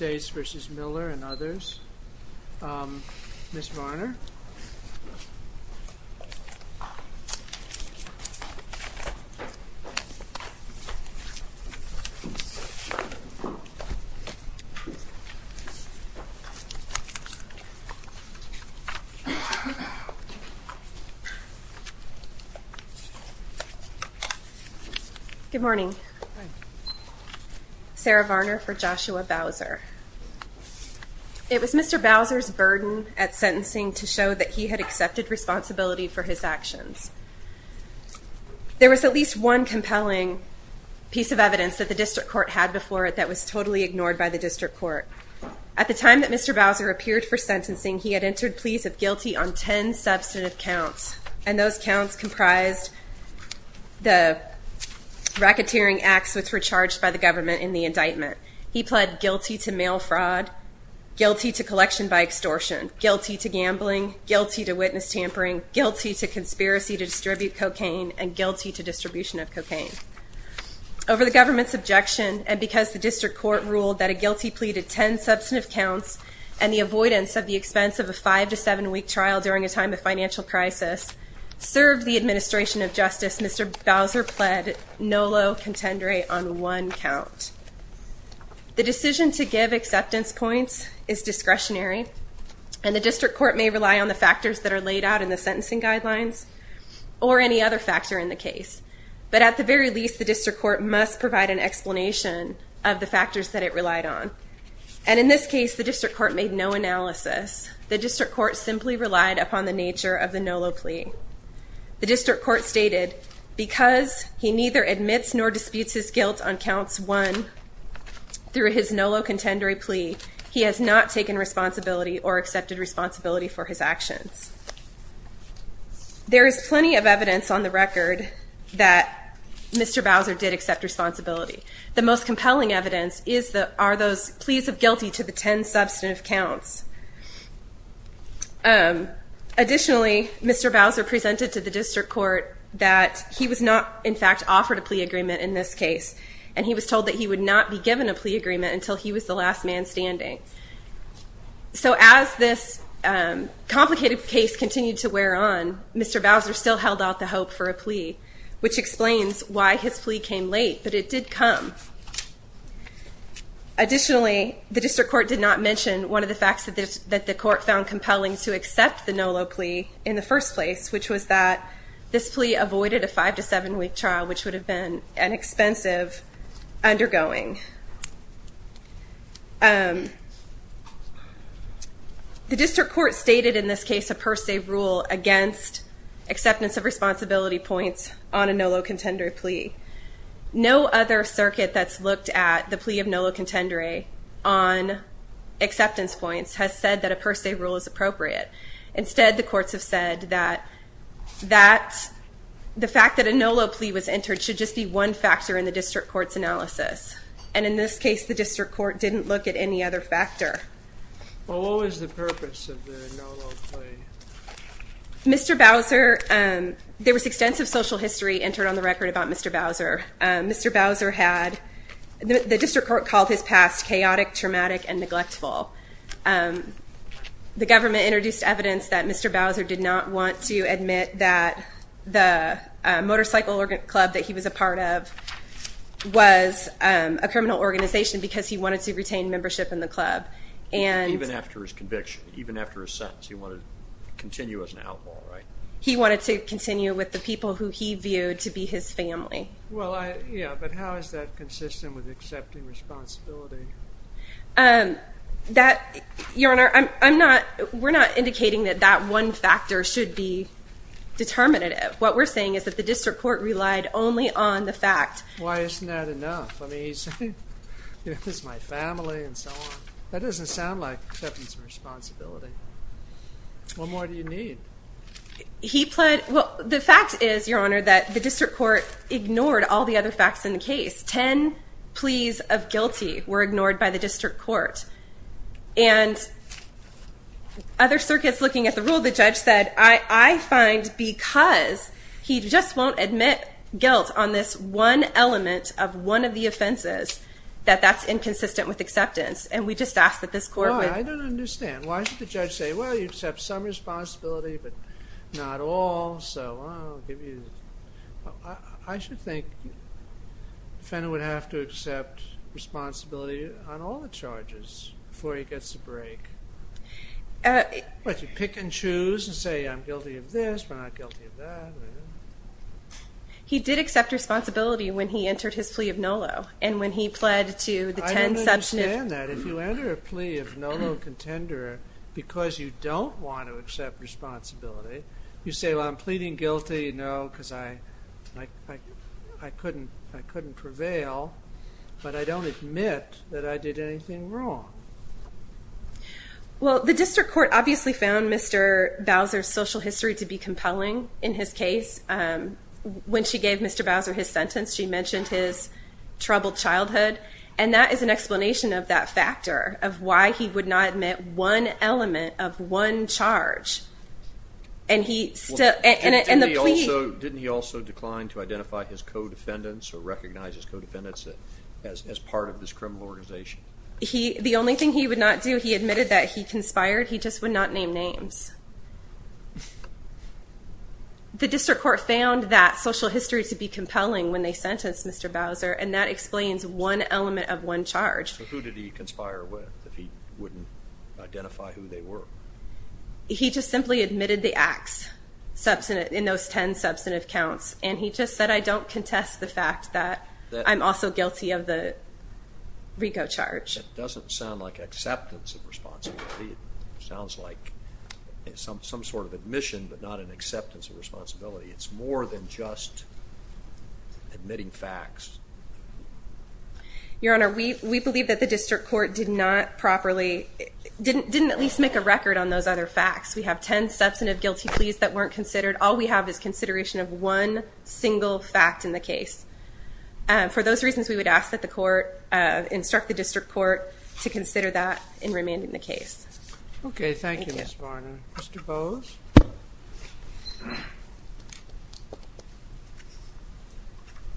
and others. Ms. Varner? Good morning. Good morning. Sarah Varner for Joshua Bowser. It was Mr. Bowser's burden at sentencing to show that he had accepted responsibility for his actions. There was at least one compelling piece of evidence that the district court had before it that was totally ignored by the district court. At the time that Mr. Bowser appeared for sentencing, he had entered pleas of guilty on ten substantive counts, and those counts comprised the racketeering acts which were charged by the government in the indictment. He pled guilty to mail fraud, guilty to collection by extortion, guilty to gambling, guilty to witness tampering, guilty to conspiracy to distribute cocaine, and guilty to distribution of cocaine. Over the government's objection, and because the district court ruled that a guilty plea to ten substantive counts and the avoidance of the expense of a five- to seven-week trial during a time of financial crisis, served the administration of justice, Mr. Bowser pled no low contendere on one count. The decision to give acceptance points is discretionary, and the district court may rely on the factors that are laid out in the sentencing guidelines or any other factor in the case. But at the very least, the district court must provide an explanation of the factors that it relied on. And in this case, the district court made no analysis. The district court simply relied upon the nature of the no low plea. The district court stated, because he neither admits nor disputes his guilt on counts one through his no low contendere plea, he has not taken responsibility or accepted responsibility for his actions. There is plenty of evidence on the record that Mr. Bowser did accept responsibility. The most compelling evidence are those pleas of guilty to the ten substantive counts. Additionally, Mr. Bowser presented to the district court that he was not, in fact, offered a plea agreement in this case, and he was told that he would not be given a plea agreement until he was the last man standing. So as this complicated case continued to wear on, Mr. Bowser still held out the hope for a plea, which explains why his plea came late, but it did come. Additionally, the district court did not mention one of the facts that the court found compelling to accept the no low plea in the first place, which was that this plea avoided a five to seven week trial, which would have been an expensive undergoing. The district court stated in this case a per se rule against acceptance of responsibility points on a no low contendere plea. No other circuit that's looked at the plea of no low contendere on acceptance points has said that a per se rule is appropriate. Instead, the courts have said that the fact that a no low plea was entered should just be one factor in the district court's analysis. And in this case, the district court didn't look at any other factor. Well, what was the purpose of the no low plea? Mr. Bowser, there was extensive social history entered on the record about Mr. Bowser. Mr. Bowser had, the district court called his past chaotic, traumatic, and neglectful. The government introduced evidence that Mr. Bowser did not want to admit that the motorcycle club that he was a part of was a criminal organization because he wanted to retain membership in the club. Even after his conviction, even after his sentence, he wanted to continue as an outlaw, right? He wanted to continue with the people who he viewed to be his family. Well, yeah, but how is that consistent with accepting responsibility? Um, that, Your Honor, I'm not, we're not indicating that that one factor should be determinative. What we're saying is that the district court relied only on the fact. Why isn't that enough? I mean, he's, you know, this is my family and so on. That doesn't sound like accepting some responsibility. What more do you need? He pled. Well, the fact is, Your Honor, that the district court ignored all the other facts in the case. Ten pleas of guilty were ignored by the district court and other circuits looking at the rule, the judge said, I find because he just won't admit guilt on this one element of one of the offenses, that that's inconsistent with acceptance. And we just asked that this court No, I don't understand. Why should the judge say, well, you accept some responsibility, but not all. So I'll give you, I should think the defendant would have to accept responsibility on all the charges before he gets a break. But you pick and choose and say, I'm guilty of this. We're not guilty of that. He did accept responsibility when he entered his plea of NOLO. And when he pled to the ten substantive... I don't understand that. If you enter a plea of NOLO contender because you don't want to accept responsibility, you say, well, I'm pleading guilty, you know, because I couldn't prevail, but I don't admit that I did anything wrong. Well, the district court obviously found Mr. Bowser's social history to be compelling in his case. When she gave Mr. Bowser his sentence, she mentioned his troubled childhood. And that is an explanation of that factor of why he would not admit one element of one charge. Didn't he also decline to identify his co-defendants or recognize his co-defendants as part of this criminal organization? The only thing he would not do, he admitted that he conspired, he just would not name names. The district court found that social history to be compelling when they sentenced Mr. Bowser, and that explains one element of one charge. So who did he conspire with if he wouldn't identify who they were? He just simply admitted the acts in those ten substantive counts. And he just said, I don't contest the fact that I'm also guilty of the RICO charge. It doesn't sound like acceptance of responsibility. It sounds like some sort of admission, but not an acceptance of responsibility. It's more than just admitting facts. Your Honor, we believe that the district court did not properly, didn't at least make a record on those other facts. We have ten substantive guilty pleas that weren't considered. All we have is consideration of one single fact in the case. For those reasons, we would ask that the court instruct the district court to consider that in remanding the case. Okay, thank you, Ms. Varner. Mr. Bose?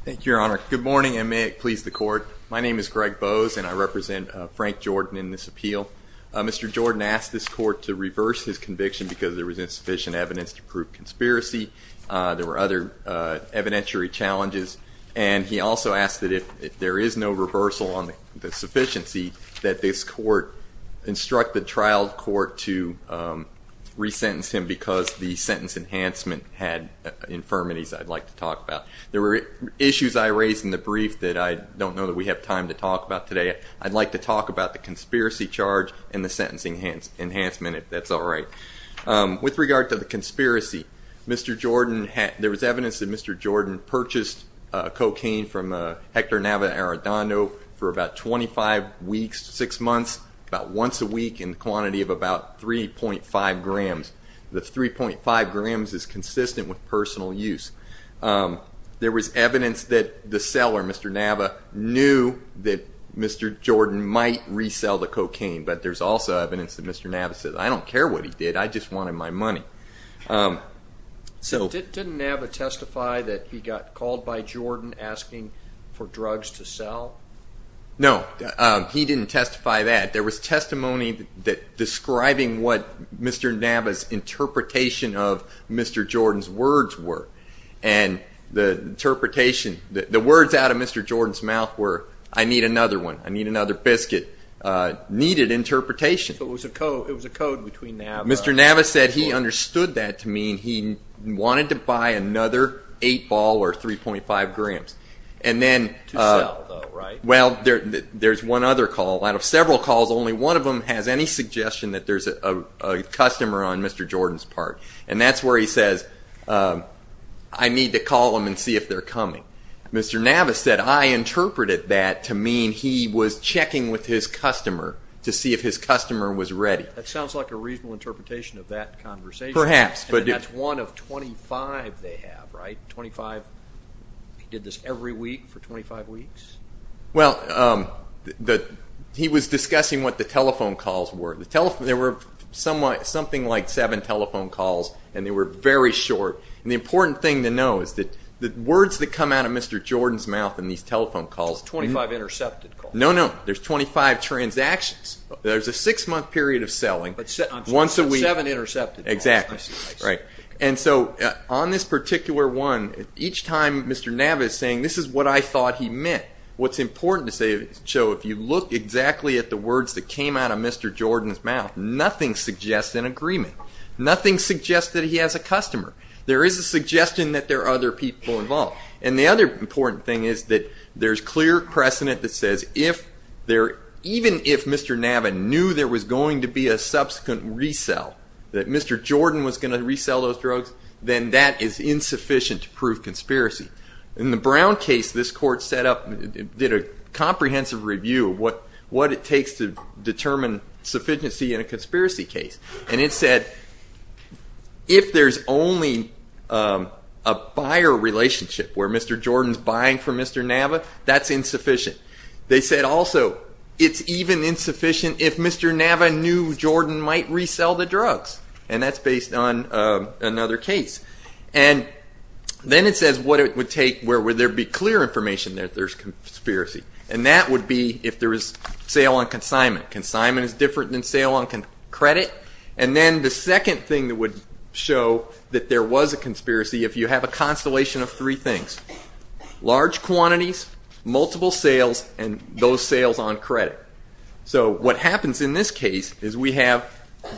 Thank you, Your Honor. Good morning, and may it please the court. My name is Greg Bose, and I represent Frank Jordan in this appeal. Mr. Jordan asked this court to reverse his conviction because there was insufficient evidence to prove conspiracy. There were other evidentiary challenges, and he also asked that if there is no reversal on the sufficiency, that this court instruct the trial court to resentence him because the sentence enhancement had infirmities I'd like to talk about. There were issues I raised in the brief that I don't know that we have time to talk about today. I'd like to talk about the conspiracy charge and the sentencing enhancement, if that's all right. With regard to the conspiracy, there was evidence that Mr. Jordan purchased cocaine from Hector Nava Arradondo for about 25 weeks, 6 months, about once a week in quantity of about 3.5 grams. The 3.5 grams is consistent with personal use. There was evidence that the seller, Mr. Nava, knew that Mr. Jordan might resell the cocaine, but there's also evidence that Mr. Nava said, I don't care what he did, I just wanted my money. Didn't Nava testify that he got called by Jordan asking for drugs to sell? No, he didn't testify that. There was testimony describing what Mr. Nava's interpretation of Mr. Jordan's words were. The words out of Mr. Jordan's mouth were, I need another one, I need another biscuit, needed interpretation. Mr. Nava said he understood that to mean he wanted to buy another 8-ball or 3.5 grams. To sell though, right? Well, there's one other call. Out of several calls, only one of them has any suggestion that there's a customer on Mr. Jordan's part. And that's where he says, I need to call them and see if they're coming. Mr. Nava said, I interpreted that to mean he was checking with his customer to see if his customer was ready. That sounds like a reasonable interpretation of that conversation. And that's one of 25 they have, right? He did this every week for 25 weeks? He was discussing what the telephone calls were. There were something like 7 telephone calls and they were very short. And the important thing to know is that the words that come out of Mr. Jordan's mouth in these telephone calls... 25 intercepted calls. No, no, there's 25 transactions. There's a 6-month period of selling once a week. And so on this particular one, each time Mr. Nava is saying, this is what I thought he meant. What's important to say is, Joe, if you look exactly at the words that came out of Mr. Jordan's mouth, nothing suggests an agreement. Nothing suggests that he has a customer. There is a suggestion that there are other people involved. And the other important thing is that there's clear precedent that says even if Mr. Nava knew there was going to be a subsequent resell, that Mr. Jordan was going to resell those drugs, then that is insufficient to prove conspiracy. In the Brown case, this court did a comprehensive review of what it takes to determine sufficiency in a conspiracy case. And it said, if there's only a buyer relationship where Mr. Jordan's buying from Mr. Nava, that's insufficient. They said also, it's even insufficient if Mr. Nava knew Jordan might resell the drugs. And that's based on another case. And then it says what it would take, where would there be clear information that there's conspiracy. And that would be if there was sale on consignment. Consignment is different than sale on credit. And then the second thing that would show that there was a conspiracy, if you have a constellation of three things. Large quantities, multiple sales, and those sales on credit. So what happens in this case is we have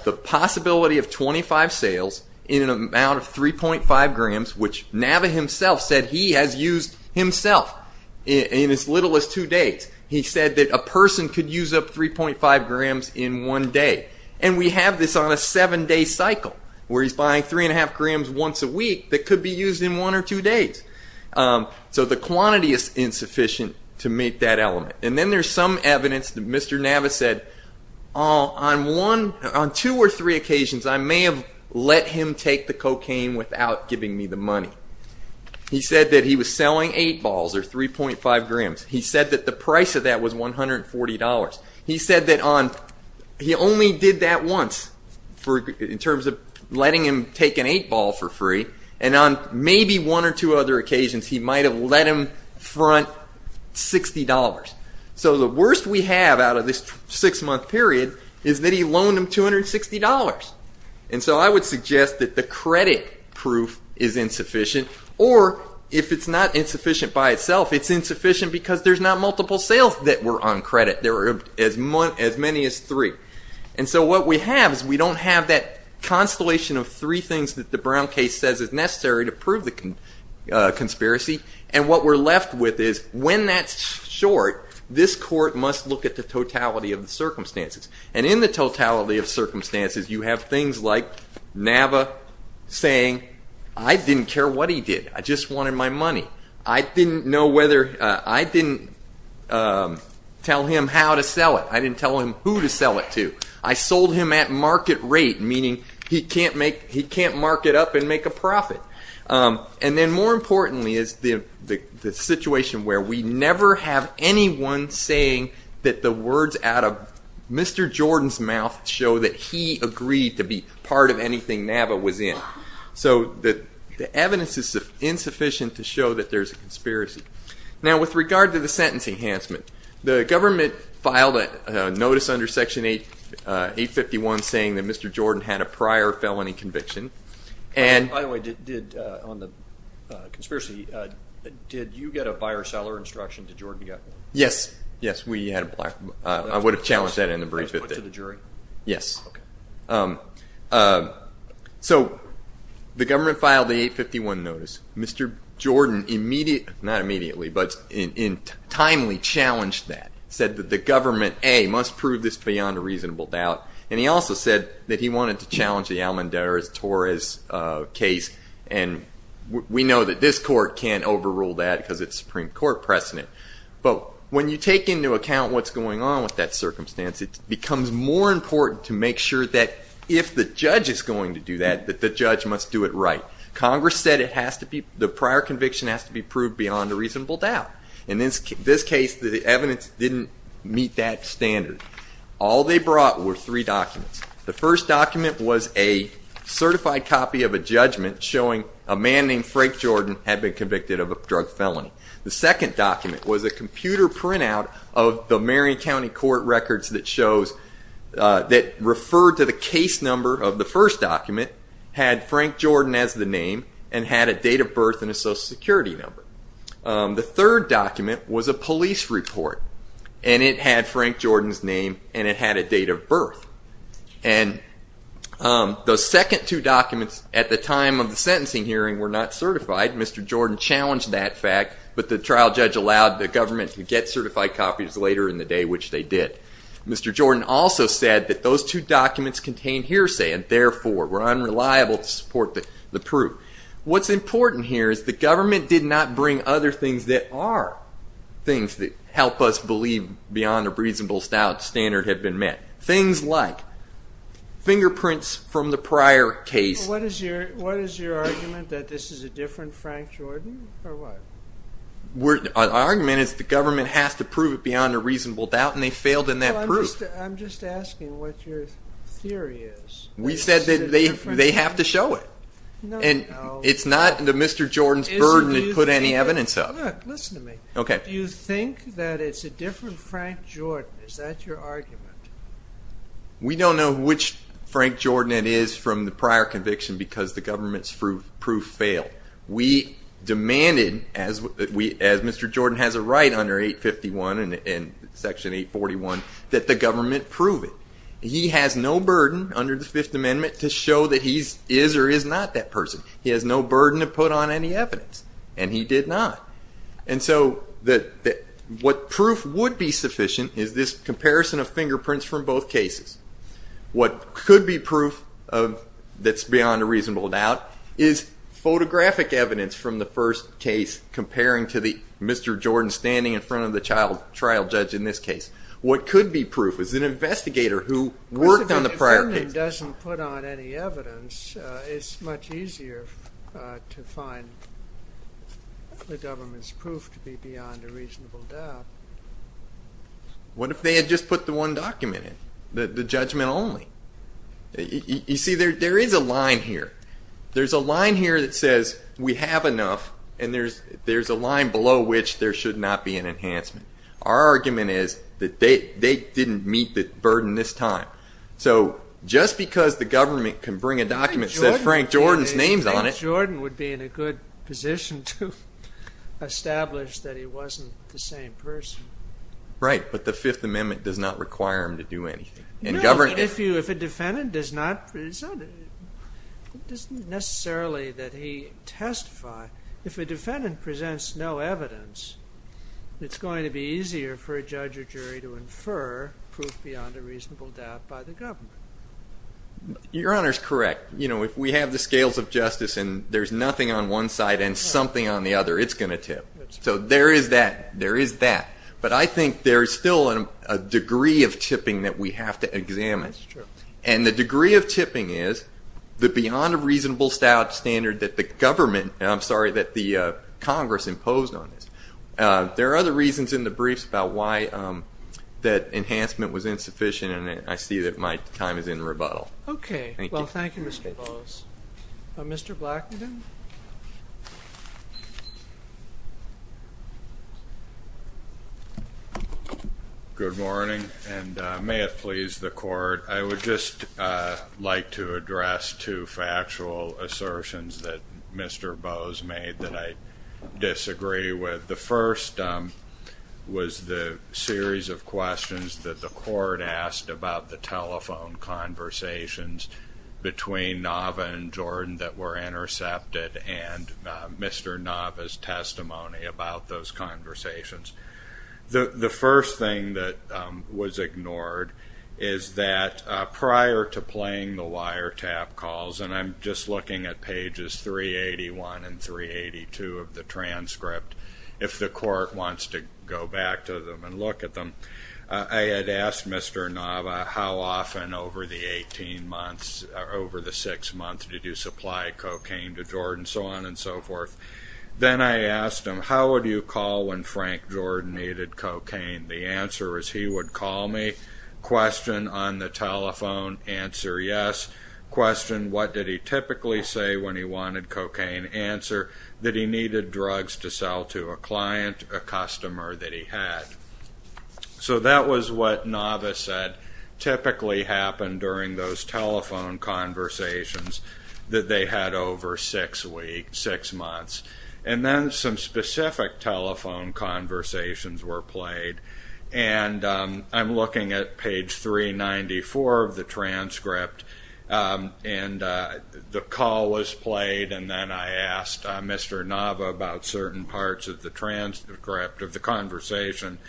the possibility of 25 sales in an amount of 3.5 grams, which Nava himself said he has used himself in as little as two days. He said that a person could use up 3.5 grams in one day. And we have this on a seven day cycle, where he's buying 3.5 grams once a week that could be used in one or two days. So the quantity is insufficient to meet that element. And then there's some evidence that Mr. Nava said, on two or three occasions I may have let him take the cocaine without giving me the money. He said that he was selling eight balls or 3.5 grams. He said that the price of that was $140. He said that he only did that once in terms of letting him take an eight ball for free. And on maybe one or two other occasions he might have let him front $60. So the worst we have out of this six month period is that he loaned him $260. And so I would suggest that the credit proof is insufficient. Or if it's not insufficient by itself, it's insufficient because there's not multiple sales that were on credit. There were as many as three. And so what we have is we don't have that constellation of three things that the Brown case says is necessary to prove the conspiracy. And what we're left with is when that's short, this court must look at the totality of the circumstances. And in the totality of circumstances you have things like Nava saying, I didn't care what he did. I just wanted my money. I didn't tell him how to sell it. I didn't tell him who to sell it to. I sold him at market rate, meaning he can't market up and make a profit. And then more importantly is the situation where we never have anyone saying that the words out of Mr. Jordan's mouth show that he agreed to be part of anything Nava was in. So the evidence is insufficient to show that there's a conspiracy. Now with regard to the sentence enhancement, the government filed a notice under Section 851 saying that Mr. Jordan had a prior felony conviction. By the way, on the conspiracy, did you get a buyer-seller instruction? Did Jordan get one? Yes. I would have challenged that in the brief. So the government filed the 851 notice. Mr. Jordan must prove this beyond a reasonable doubt. And he also said that he wanted to challenge the Almendarez-Torres case. And we know that this court can't overrule that because it's Supreme Court precedent. But when you take into account what's going on with that circumstance, it becomes more important to make sure that if the judge is going to do that, that the judge must do it right. Congress said the prior conviction has to be proved beyond a reasonable doubt. In this case, the evidence didn't meet that standard. All they brought were three documents. The first document was a certified copy of a judgment showing a man named Frank Jordan had been convicted of a drug felony. The second document was a computer printout of the Marion County Court records that referred to the case number of the first document, had Frank Jordan as the name, and had a date of birth and a Social Security number. The third document was a police report, and it had Frank Jordan's name and it had a date of birth. And the second two documents at the time of the sentencing hearing were not certified. Mr. Jordan challenged that fact, but the trial judge allowed the government to get certified copies later in the day, which they did. Mr. Jordan also said that those two documents contained hearsay, and therefore were unreliable to support the proof. What's important here is the government did not bring other things that are things that help us believe beyond a reasonable standard have been met. Things like fingerprints from the prior case. What is your argument, that this is a different Frank Jordan, or what? Our argument is that the government has to prove it beyond a reasonable doubt, and they failed in that proof. I'm just asking what your theory is. We said that they have to show it. It's not Mr. Jordan's burden to put any evidence of. Look, listen to me. Do you think that it's a different Frank Jordan? Is that your argument? We don't know which Frank Jordan it is from the prior conviction because the government's proof failed. We demanded, as Mr. Jordan has a right under 851 and Section 841, that the government prove it. He has no burden under the Fifth Amendment to show that he is or is not that person. He has no burden to put on any evidence, and he did not. What proof would be sufficient is this comparison of fingerprints from both cases. What could be proof that's beyond a reasonable doubt is photographic evidence from the first case comparing to the Mr. Jordan standing in front of the trial judge in this case. What could be proof is an investigator who worked on the prior case. But if the government doesn't put on any evidence, it's much easier to find the government's proof to be beyond a reasonable doubt. What if they had just put the one document in, the judgment only? You see, there is a line here. There's a line here that says we have enough, and there's a line below which there should not be an enhancement. Our argument is that they didn't meet the burden this time. Just because the government can bring a document that says Frank Jordan's name on it... Right, but the Fifth Amendment does not require him to do anything. If a defendant does not...it's not necessarily that he testifies. If a defendant presents no evidence, it's going to be easier for a judge or jury to infer proof beyond a reasonable doubt by the government. Your Honor's correct. If we have the scales of justice and there's nothing on one side and something on the other, it's going to tip. So there is that. But I think there's still a degree of tipping that we have to examine. And the degree of tipping is the beyond a reasonable standard that the Congress imposed on this. There are other reasons in the briefs about why that enhancement was insufficient, and I see that my time is in rebuttal. Okay. Well, thank you, Mr. Bowes. Mr. Blackman? Good morning, and may it please the Court, I would just like to address two factual assertions that Mr. Bowes made that I disagree with. The first was the telephone conversations between Nava and Jordan that were intercepted and Mr. Nava's testimony about those conversations. The first thing that was ignored is that prior to playing the wiretap calls, and I'm just looking at pages 381 and 382 of the transcript, if the Court wants to go back to them and look at them, I had asked Mr. Nava how often over the six months did you supply cocaine to Jordan, so on and so forth. Then I asked him, how would you call when Frank Jordan needed cocaine? The answer is he would call me, question on the telephone, answer yes. Question, what did he typically say when he wanted cocaine? Answer, that he needed drugs to sell to a client, a customer that he had. So that was what Nava said typically happened during those telephone conversations that they had over six months. And then some specific telephone conversations were played, and I'm looking at page 394 of the transcript, and the call was played, and then I asked Mr. Nava about certain parts of the transcript of the conversation.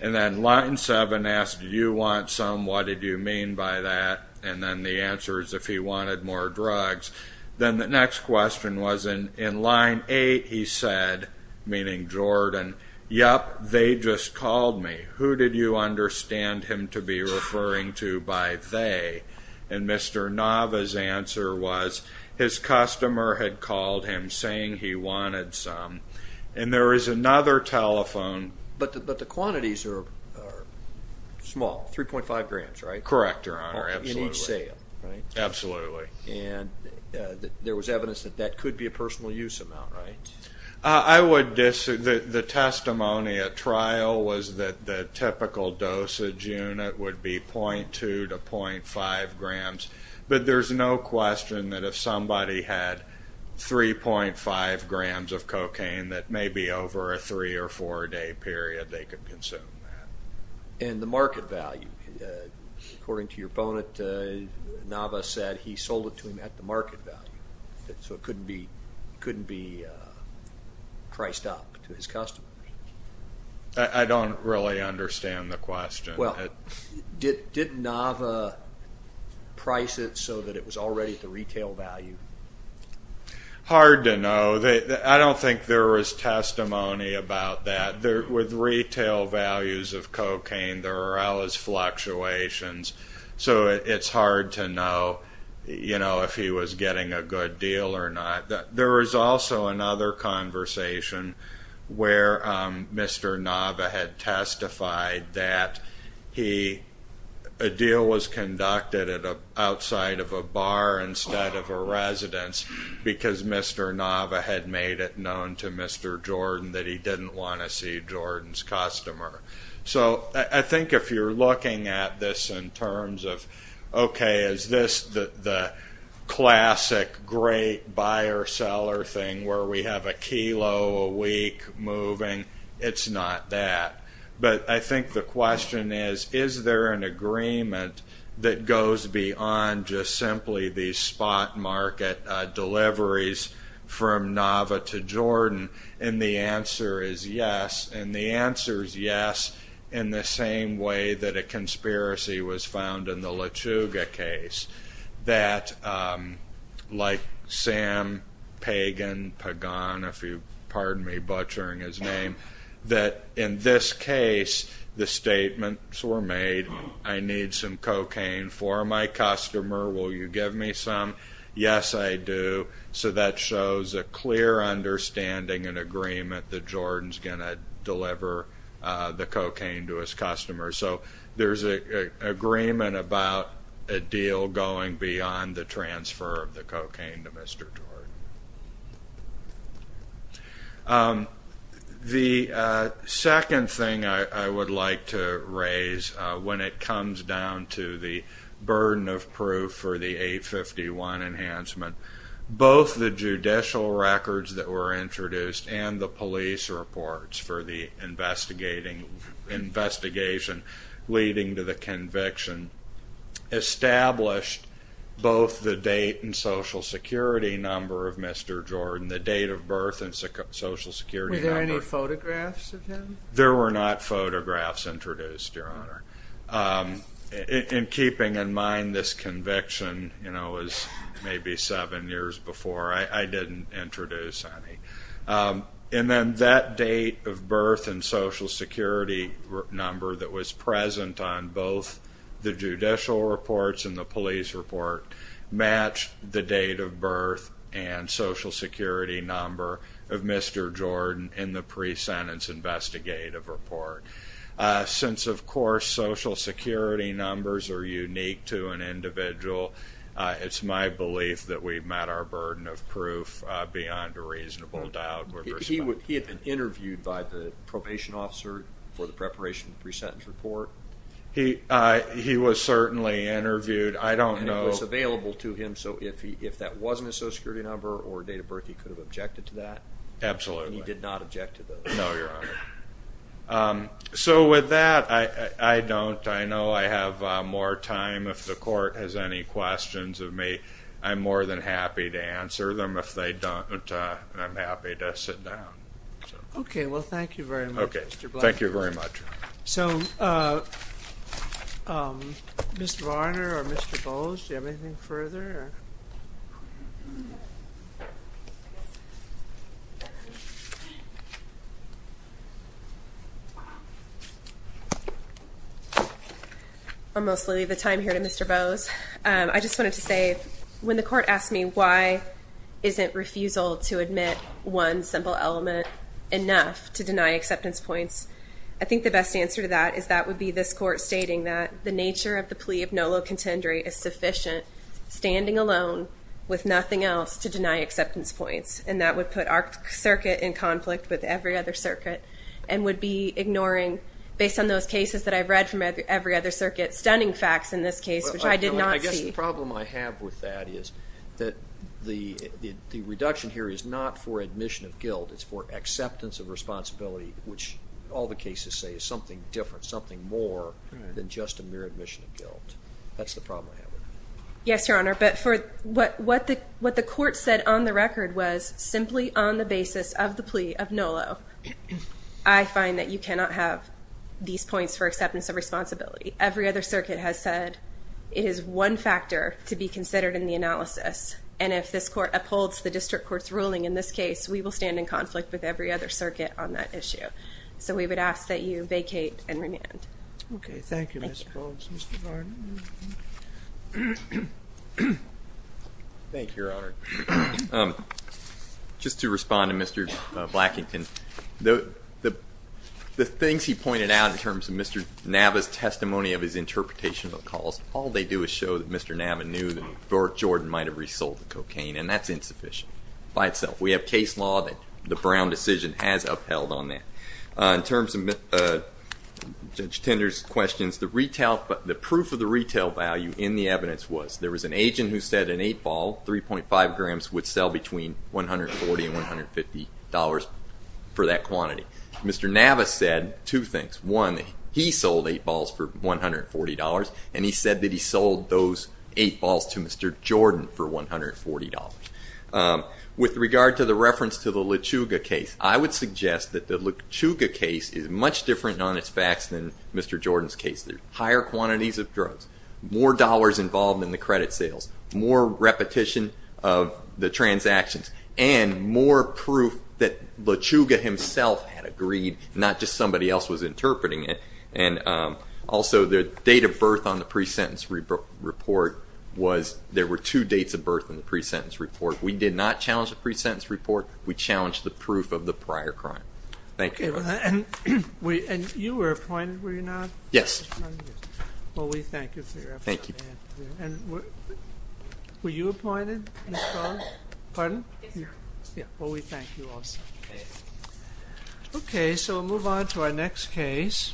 And then line seven asked, do you want some? What did you mean by that? And then the answer is if he wanted more drugs. Then the next question was in line eight he said, meaning Jordan, yup, they just called me. Who did you understand him to be referring to by they? And Mr. Nava's answer was his customer had called him saying he wanted some. And there is another telephone. But the quantities are small, 3.5 grams, right? Correct, Your Honor. In each sale, right? Absolutely. And there was evidence that that could be a personal use amount, right? I would disagree. The testimony at trial was that the typical dosage unit would be 0.2 to 0.5 grams. But there's no question that if somebody had 3.5 grams of cocaine that maybe over a three or four day period they could consume that. And the market value, according to your opponent, Nava said he sold it to him at the market value. So it couldn't be priced up to his customers. I don't really understand the question. Well, did Nava price it so that it was already at the retail value? Hard to know. I don't think there was testimony about that. With retail values of cocaine there are always fluctuations. So it's hard to know if he was getting a good deal or not. There was also another conversation where Mr. Nava had testified that a deal was conducted outside of a bar instead of a residence because Mr. Nava had made it known to I think if you're looking at this in terms of, okay, is this the classic great buyer-seller thing where we have a kilo a week moving? It's not that. But I think the question is, is there an agreement that goes beyond just simply the spot market deliveries from Nava to Jordan? And the answer is yes. And the answer is yes in the same way that a conspiracy was found in the Lechuga case. Like Sam Pagan, if you pardon me butchering his name, that in this case the statements were made, I need some cocaine for my customer, will you give me some? Yes I do. So that shows a clear understanding and agreement that Jordan's going to deliver the cocaine to his customer. So there's an agreement about a deal going beyond the transfer of the cocaine to Mr. Jordan. The second thing I would like to raise when it comes down to the burden of proof for the A51 enhancement, both the judicial records that were introduced and the police reports for the investigation leading to the conviction established both the date and Social Security number of Mr. Jordan, the date of birth and Social Security number. Were there any photographs of him? There were not photographs introduced, Your Honor. In keeping in mind this conviction was maybe seven years before, I didn't introduce any. And then that date of birth and Social Security number that was present on both the judicial reports and the police report matched the date of pre-sentence investigative report. Since of course Social Security numbers are unique to an individual, it's my belief that we've met our burden of proof beyond a reasonable doubt. He had been interviewed by the probation officer for the preparation of the pre-sentence report? He was certainly interviewed. And it was available to him, so if that wasn't a Social Security number or date of birth, he could have objected to that? Absolutely. And he did not object to that? No, Your Honor. So with that, I don't, I know I have more time. If the court has any questions of me, I'm more than happy to answer them. If they don't, I'm happy to sit down. Okay, well thank you very much. Okay, thank you very much. So, Mr. Varner or Mr. Bowes, do you have anything further? I'll mostly leave the time here to Mr. Bowes. I just wanted to say, when the court asked me why isn't refusal to admit one simple element enough to deny acceptance points, I think the best answer to that is that would be this court stating that the nature of the plea of nolo contendere is sufficient, standing alone with nothing else to deny acceptance points. And that would put our circuit in conflict with every other circuit, and would be ignoring, based on those cases that I've read from every other circuit, stunning facts in this case, which I did not see. I guess the problem I have with that is that the reduction here is not for admission of guilt, it's for acceptance of responsibility, which all the cases say is something different, something more than just a mere admission of guilt. That's the problem I have with it. Yes, Your Honor, but for what the court said on the record was, simply on the basis of the plea of nolo, I find that you cannot have these points for acceptance of responsibility. Every other circuit has said it is one factor to be considered in the analysis, and if this court upholds the district court's ruling in this case, we will stand in conflict with every other circuit on that issue. So we would ask that you vacate and remand. Thank you, Your Honor. Just to respond to Mr. Blackington, the things he pointed out in terms of Mr. Nava's testimony of his interpretation of the calls, all they do is show that Mr. Nava knew that George Jordan might have resold the cocaine, and that's insufficient by itself. We have case law that the Brown decision has upheld on that. In terms of Judge Tinder's questions, the proof of the retail value in the evidence was there was an agent who said an 8-ball, 3.5 grams, would sell between $140 and $150 for that quantity. Mr. Nava said two things. One, he sold 8 balls for $140, and he said that he sold those 8 balls to Mr. Jordan for $140. With regard to the reference to the Luchuga case, I would suggest that the Luchuga case is much different on its facts than Mr. Jordan's case. There are higher quantities of drugs, more dollars involved in the credit sales, more repetition of the transactions, and more proof that Luchuga himself had agreed, not just somebody else was interpreting it. Also, the date of birth on the pre-sentence report, there were two dates of birth in the pre-sentence report. We did not challenge the pre-sentence report. We challenged the proof of the prior crime. Thank you.